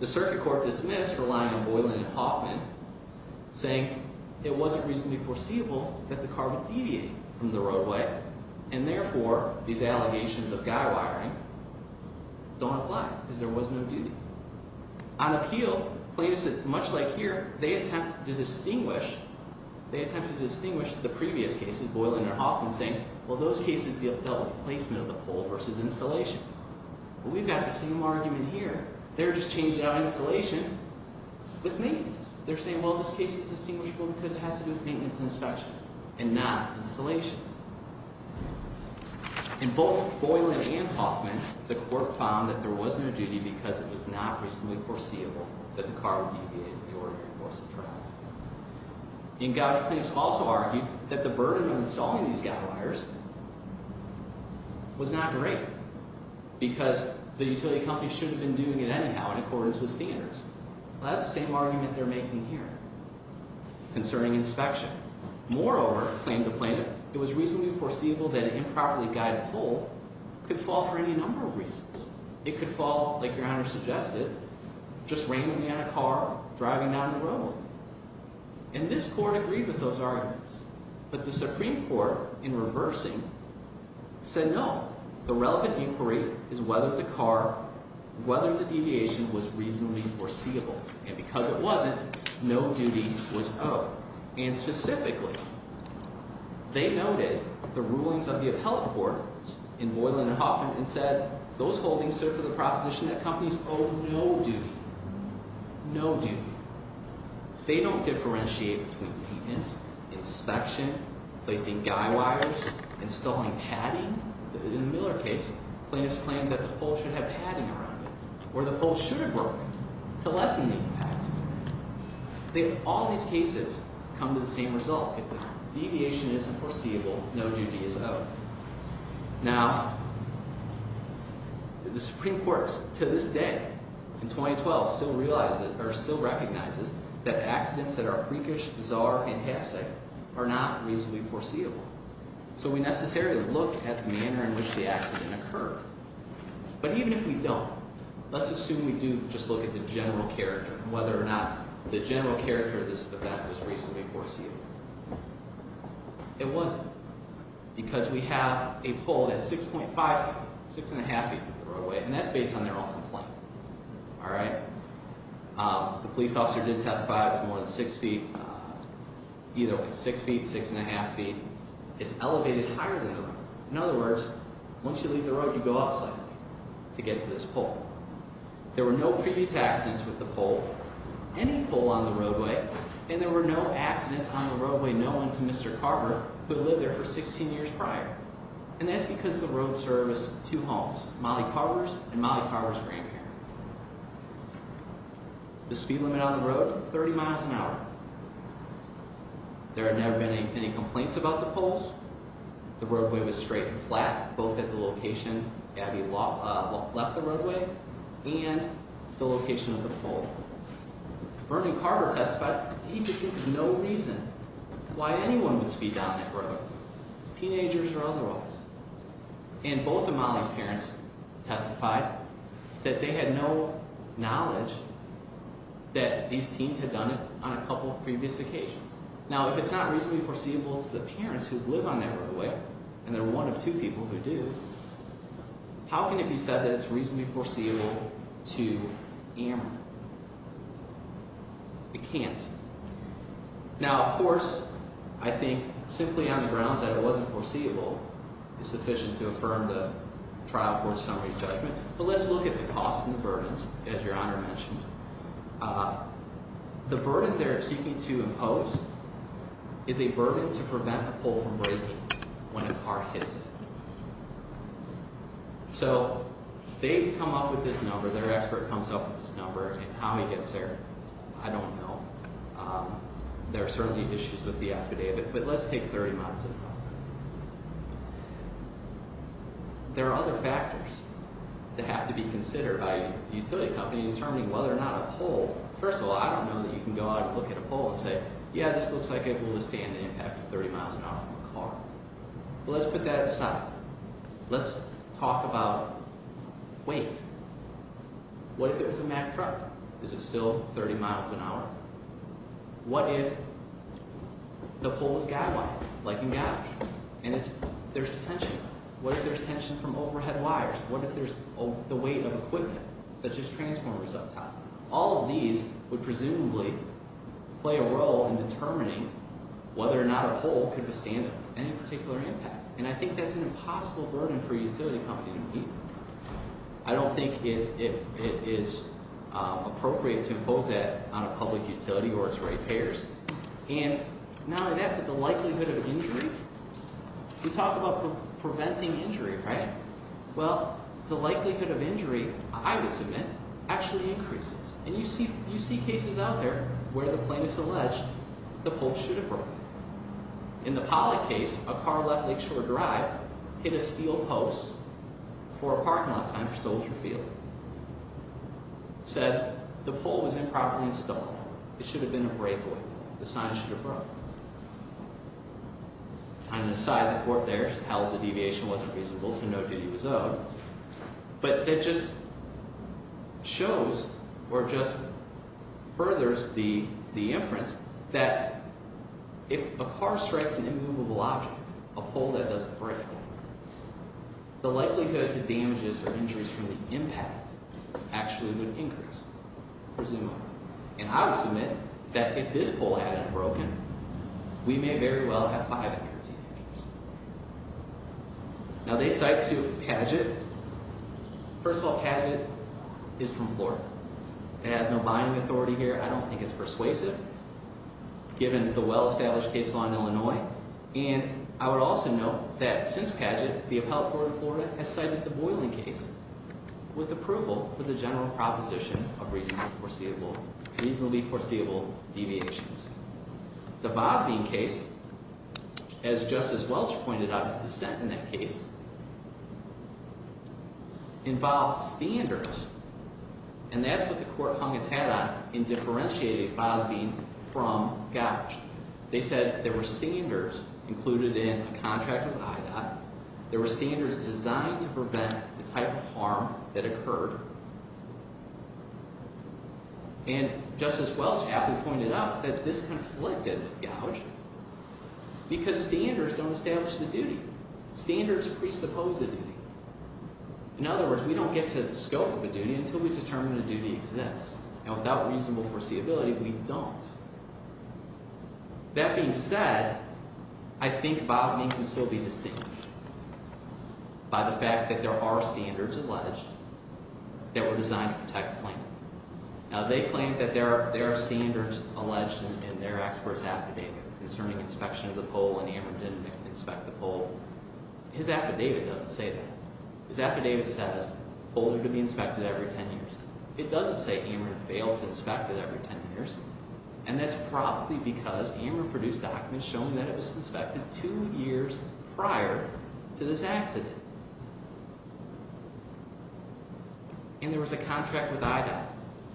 The Circuit Court dismissed relying on Boylan and Hoffman saying it wasn't reasonably foreseeable that the car would deviate from the roadway, and therefore these allegations of guy wiring don't apply because there was no duty. On appeal, plaintiffs, much like here, they attempt to distinguish the previous cases, Boylan and Hoffman saying, well those cases dealt with placement of the pole versus installation. But we've got the same argument here. They're just changing out installation with maintenance. They're saying, well, this case is distinguishable because it has to do with maintenance and inspection and not installation. In both Boylan and Hoffman, the court found that there wasn't a duty because it was not reasonably foreseeable that the car would deviate from the ordinary course of travel. Engaged plaintiffs also argued that the burden of installing these guy wires was not great because the utility company should have been doing it anyhow in accordance with standards. Well, that's the same argument they're making here concerning inspection. Moreover, claimed the plaintiff, it was reasonably foreseeable that an improperly guided pole could fall for any number of reasons. It could fall, like Your Honor suggested, just randomly on a car driving down the road. And this court agreed with those arguments. But the Supreme Court, in reversing, said no. The relevant inquiry is whether the car, whether the deviation was reasonably foreseeable. And because it wasn't, no duty was owed. And specifically, they noted the rulings of the appellate court in Boylan and Hoffman and said those holdings serve for the proposition that companies owe no duty. No duty. They don't differentiate between maintenance, inspection, placing guy wires, installing padding. In the Miller case, plaintiffs claimed that the pole should have padding around it or the pole should have broken to lessen the impact. All these cases come to the same result. If the deviation isn't foreseeable, no duty is owed. Now, the Supreme Court to this day, in 2012, still realizes or still recognizes that accidents that are freakish, bizarre, and tacit are not reasonably foreseeable. So we necessarily look at the manner in which the accident occurred. But even if we don't, let's assume we do just look at the general character, whether or not the general character of this event was reasonably foreseeable. It wasn't. Because we have a pole that's 6.5, 6.5 feet from the roadway, and that's based on their own complaint. All right? The police officer did testify it was more than 6 feet, either way, 6 feet, 6.5 feet. It's elevated higher than that. In other words, once you leave the road, you go up slightly to get to this pole. There were no previous accidents with the pole, any pole on the roadway, and there were no accidents on the roadway known to Mr. Carver who had lived there for 16 years prior. And that's because the road serviced two homes, Molly Carver's and Molly Carver's grandparent. The speed limit on the road, 30 miles an hour. The roadway was straight and flat, both at the location Gabby left the roadway and the location of the pole. Bernie Carver testified he could give no reason why anyone would speed down that road, teenagers or otherwise. And both of Molly's parents testified that they had no knowledge that these teens had done it on a couple of previous occasions. Now, if it's not reasonably foreseeable to the parents who live on that roadway, and they're one of two people who do, how can it be said that it's reasonably foreseeable to Aaron? It can't. Now, of course, I think simply on the grounds that it wasn't foreseeable is sufficient to affirm the trial court summary judgment. But let's look at the costs and the burdens, as Your Honor mentioned. The burden they're seeking to impose is a burden to prevent the pole from breaking when a car hits it. So they come up with this number, their expert comes up with this number, and how he gets there, I don't know. There are certainly issues with the affidavit, but let's take 30 miles an hour. There are other factors that have to be considered by a utility company in determining whether or not a pole—first of all, I don't know that you can go out and look at a pole and say, yeah, this looks like it will withstand the impact of 30 miles an hour from a car. But let's put that aside. Let's talk about weight. What if it was a Mack truck? Is it still 30 miles an hour? What if the pole was guy-wired, like in garage? And there's tension. What if there's tension from overhead wires? What if there's the weight of equipment, such as transformers up top? All of these would presumably play a role in determining whether or not a pole could withstand any particular impact. And I think that's an impossible burden for a utility company to meet. I don't think it is appropriate to impose that on a public utility or its rate payers. And not only that, but the likelihood of injury—we talked about preventing injury, right? Well, the likelihood of injury, I would submit, actually increases. And you see cases out there where the plaintiff's alleged the pole should have broken. In the Pollock case, a car left Lakeshore Drive, hit a steel post for a parking lot sign for Stolzer Field. Said the pole was improperly installed. It should have been a breakaway. The sign should have broken. And the court there held the deviation wasn't reasonable, so no duty was owed. But it just shows or just furthers the inference that if a car strikes an immovable object, a pole that doesn't break, the likelihood to damages or injuries from the impact actually would increase, presumably. And I would submit that if this pole hadn't broken, we may very well have five injuries. Now, they cite to Paget. First of all, Paget is from Florida. It has no binding authority here. I don't think it's persuasive, given the well-established case law in Illinois. And I would also note that since Paget, the Appellate Court of Florida has cited the Boiling case with approval for the general proposition of reasonably foreseeable deviations. The Bosbein case, as Justice Welch pointed out, is dissent in that case, involved standards. And that's what the court hung its hat on in differentiating Bosbein from Gottsch. They said there were standards included in a contract with IDOT. There were standards designed to prevent the type of harm that occurred. And Justice Welch aptly pointed out that this conflicted with Gottsch because standards don't establish the duty. Standards presuppose the duty. In other words, we don't get to the scope of a duty until we determine the duty exists. And without reasonable foreseeability, we don't. That being said, I think Bosbein can still be distinguished by the fact that there are standards alleged. They were designed to protect the plaintiff. Now, they claim that there are standards alleged in their expert's affidavit concerning inspection of the pole and Amer didn't inspect the pole. His affidavit doesn't say that. His affidavit says, pole need to be inspected every ten years. It doesn't say Amer failed to inspect it every ten years. And that's probably because Amer produced documents showing that it was inspected two years prior to this accident. And there was a contract with IDOT.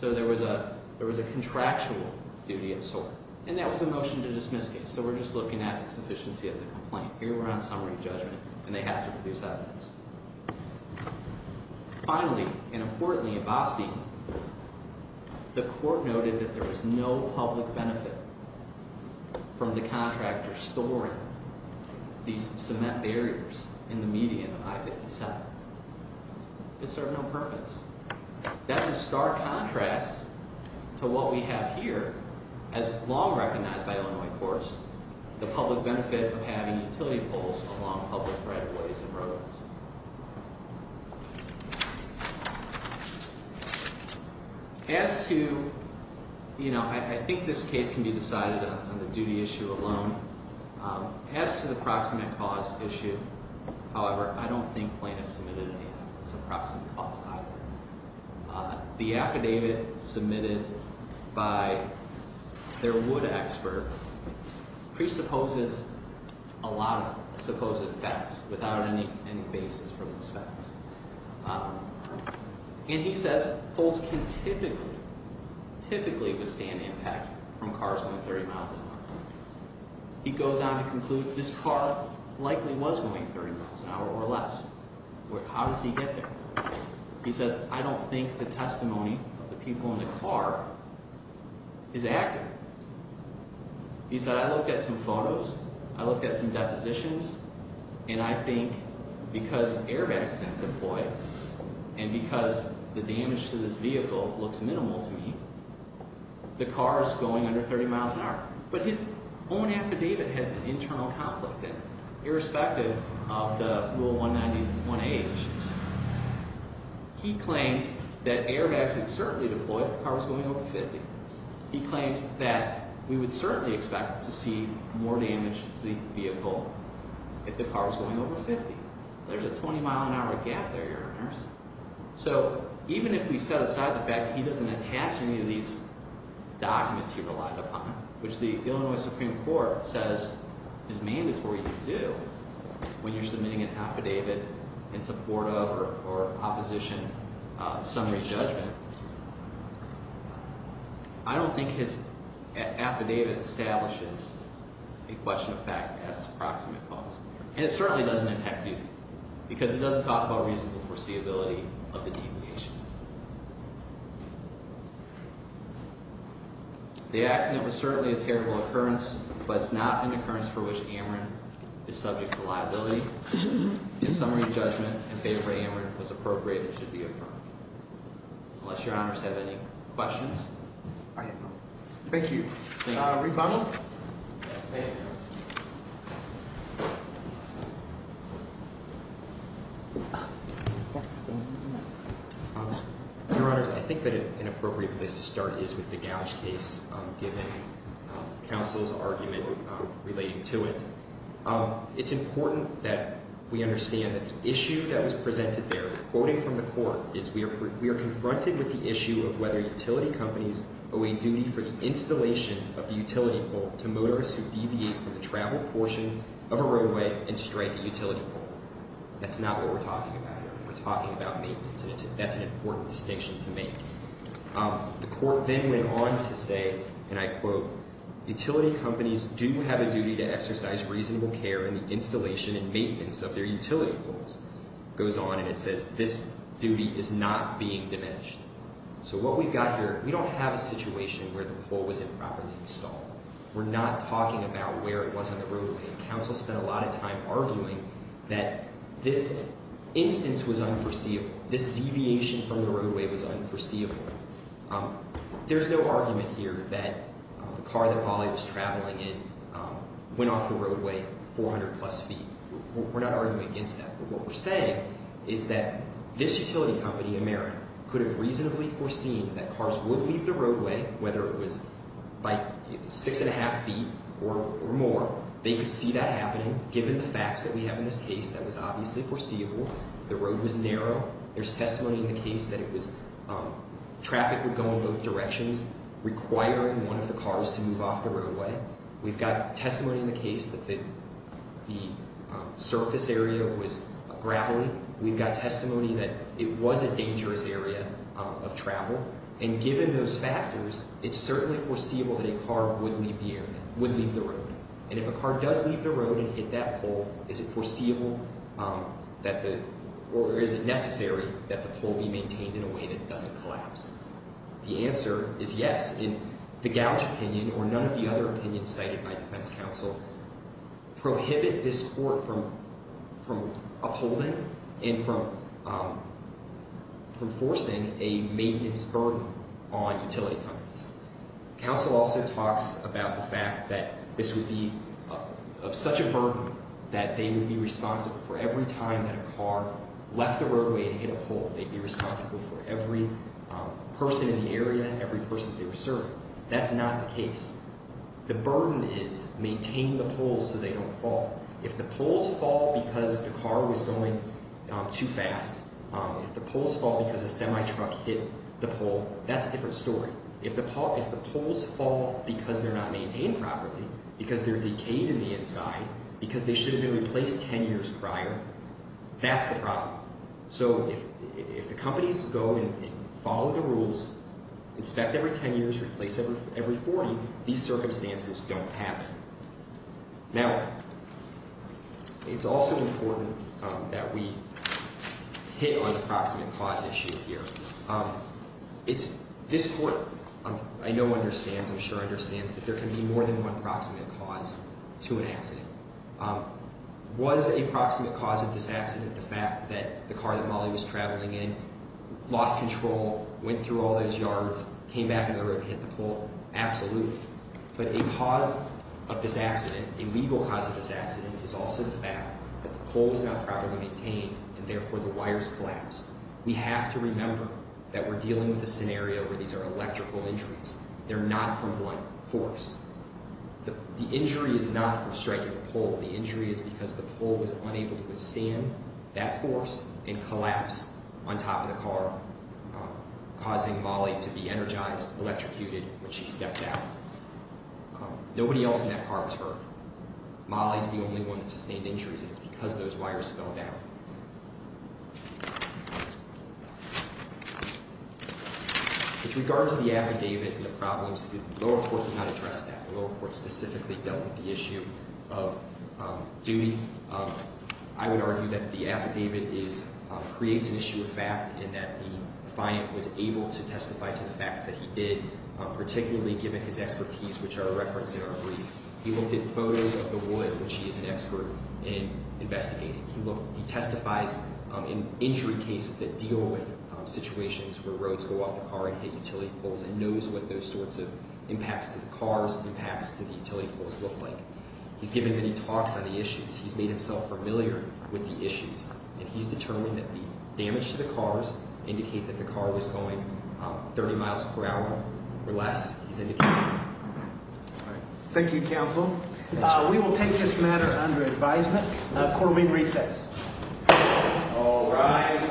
So there was a contractual duty of sort. And that was a motion to dismiss case. So we're just looking at the sufficiency of the complaint. Here we're on summary judgment, and they have to produce evidence. Finally, and importantly at Bosbein, the court noted that there was no public benefit from the contractor storing these cement barriers in the median of I-57. It served no purpose. That's a stark contrast to what we have here, as long recognized by Illinois courts, the public benefit of having utility poles along public right-of-ways and roads. As to, you know, I think this case can be decided on the duty issue alone. As to the approximate cause issue, however, I don't think plaintiffs submitted any approximate cause either. The affidavit submitted by their wood expert presupposes a lot of supposed facts without any basis for those facts. And he says poles can typically, typically withstand impact from cars going 30 miles an hour. He goes on to conclude this car likely was going 30 miles an hour or less. How does he get there? He says, I don't think the testimony of the people in the car is accurate. He said, I looked at some photos, I looked at some depositions, and I think because airbags have been deployed and because the damage to this vehicle looks minimal to me, the car is going under 30 miles an hour. But his own affidavit has an internal conflict in it, irrespective of the Rule 191A issues. He claims that airbags would certainly deploy if the car was going over 50. He claims that we would certainly expect to see more damage to the vehicle if the car was going over 50. There's a 20 mile an hour gap there, Your Honors. So even if we set aside the fact that he doesn't attach any of these documents he relied upon, which the Illinois Supreme Court says is mandatory to do when you're submitting an affidavit in support of or opposition of summary judgment. I don't think his affidavit establishes a question of fact as to proximate cause. And it certainly doesn't affect you, because it doesn't talk about reasonable foreseeability of the deviation. The accident was certainly a terrible occurrence, but it's not an occurrence for which Ameren is subject to liability. If summary judgment in favor of Ameren was appropriate, it should be affirmed. Unless Your Honors have any questions. Thank you. Rebuttal. Your Honors, I think that an appropriate place to start is with the Gouge case, given counsel's argument relating to it. It's important that we understand that the issue that was presented there, quoting from the court, is we are confronted with the issue of whether utility companies owe a duty for the installation of the utility pole to motorists who deviate from the travel portion of a roadway and strike a utility pole. That's not what we're talking about here. We're talking about maintenance, and that's an important distinction to make. The court then went on to say, and I quote, utility companies do have a duty to exercise reasonable care in the installation and maintenance of their utility poles. It goes on and it says this duty is not being diminished. So what we've got here, we don't have a situation where the pole was improperly installed. We're not talking about where it was on the roadway. Counsel spent a lot of time arguing that this instance was unforeseeable. This deviation from the roadway was unforeseeable. There's no argument here that the car that Ollie was traveling in went off the roadway 400 plus feet. We're not arguing against that, but what we're saying is that this utility company, Amerit, could have reasonably foreseen that cars would leave the roadway, whether it was 6 1⁄2 feet or more. They could see that happening given the facts that we have in this case that was obviously foreseeable. The road was narrow. There's testimony in the case that traffic would go in both directions, requiring one of the cars to move off the roadway. We've got testimony in the case that the surface area was gravelly. We've got testimony that it was a dangerous area of travel. And given those factors, it's certainly foreseeable that a car would leave the road. And if a car does leave the road and hit that pole, is it foreseeable or is it necessary that the pole be maintained in a way that it doesn't collapse? The answer is yes. In the Gouch opinion, or none of the other opinions cited by defense counsel, prohibit this court from upholding and from forcing a maintenance burden on utility companies. Counsel also talks about the fact that this would be such a burden that they would be responsible for every time that a car left the roadway and hit a pole. They'd be responsible for every person in the area, every person that they were serving. That's not the case. The burden is maintain the poles so they don't fall. If the poles fall because the car was going too fast, if the poles fall because a semi-truck hit the pole, that's a different story. If the poles fall because they're not maintained properly, because they're decayed in the inside, because they should have been replaced 10 years prior, that's the problem. So if the companies go and follow the rules, inspect every 10 years, replace every 40, these circumstances don't happen. Now, it's also important that we hit on the proximate cause issue here. This court, I know understands, I'm sure understands, that there can be more than one proximate cause to an accident. Was a proximate cause of this accident the fact that the car that Molly was traveling in lost control, went through all those yards, came back on the road and hit the pole? Absolutely. But a cause of this accident, a legal cause of this accident, is also the fact that the pole was not properly maintained and therefore the wires collapsed. We have to remember that we're dealing with a scenario where these are electrical injuries. They're not from one force. The injury is not from striking a pole. The injury is because the pole was unable to withstand that force and collapse on top of the car, causing Molly to be energized, electrocuted when she stepped out. Nobody else in that car was hurt. Molly's the only one that sustained injuries, and it's because those wires fell down. With regard to the affidavit and the problems, the lower court did not address that. The lower court specifically dealt with the issue of duty. I would argue that the affidavit creates an issue of fact in that the client was able to testify to the facts that he did, particularly given his expertise, which are referenced in our brief. He looked at photos of the wood, which he is an expert in investigating. He testifies in injury cases that deal with situations where roads go off the car and hit utility poles and knows what those sorts of impacts to the cars, impacts to the utility poles look like. He's given many talks on the issues. He's made himself familiar with the issues, and he's determined that the damage to the cars indicate that the car was going 30 miles per hour or less. He's indicated that. Thank you, counsel. We will take this matter under advisement. Court will be in recess. All rise.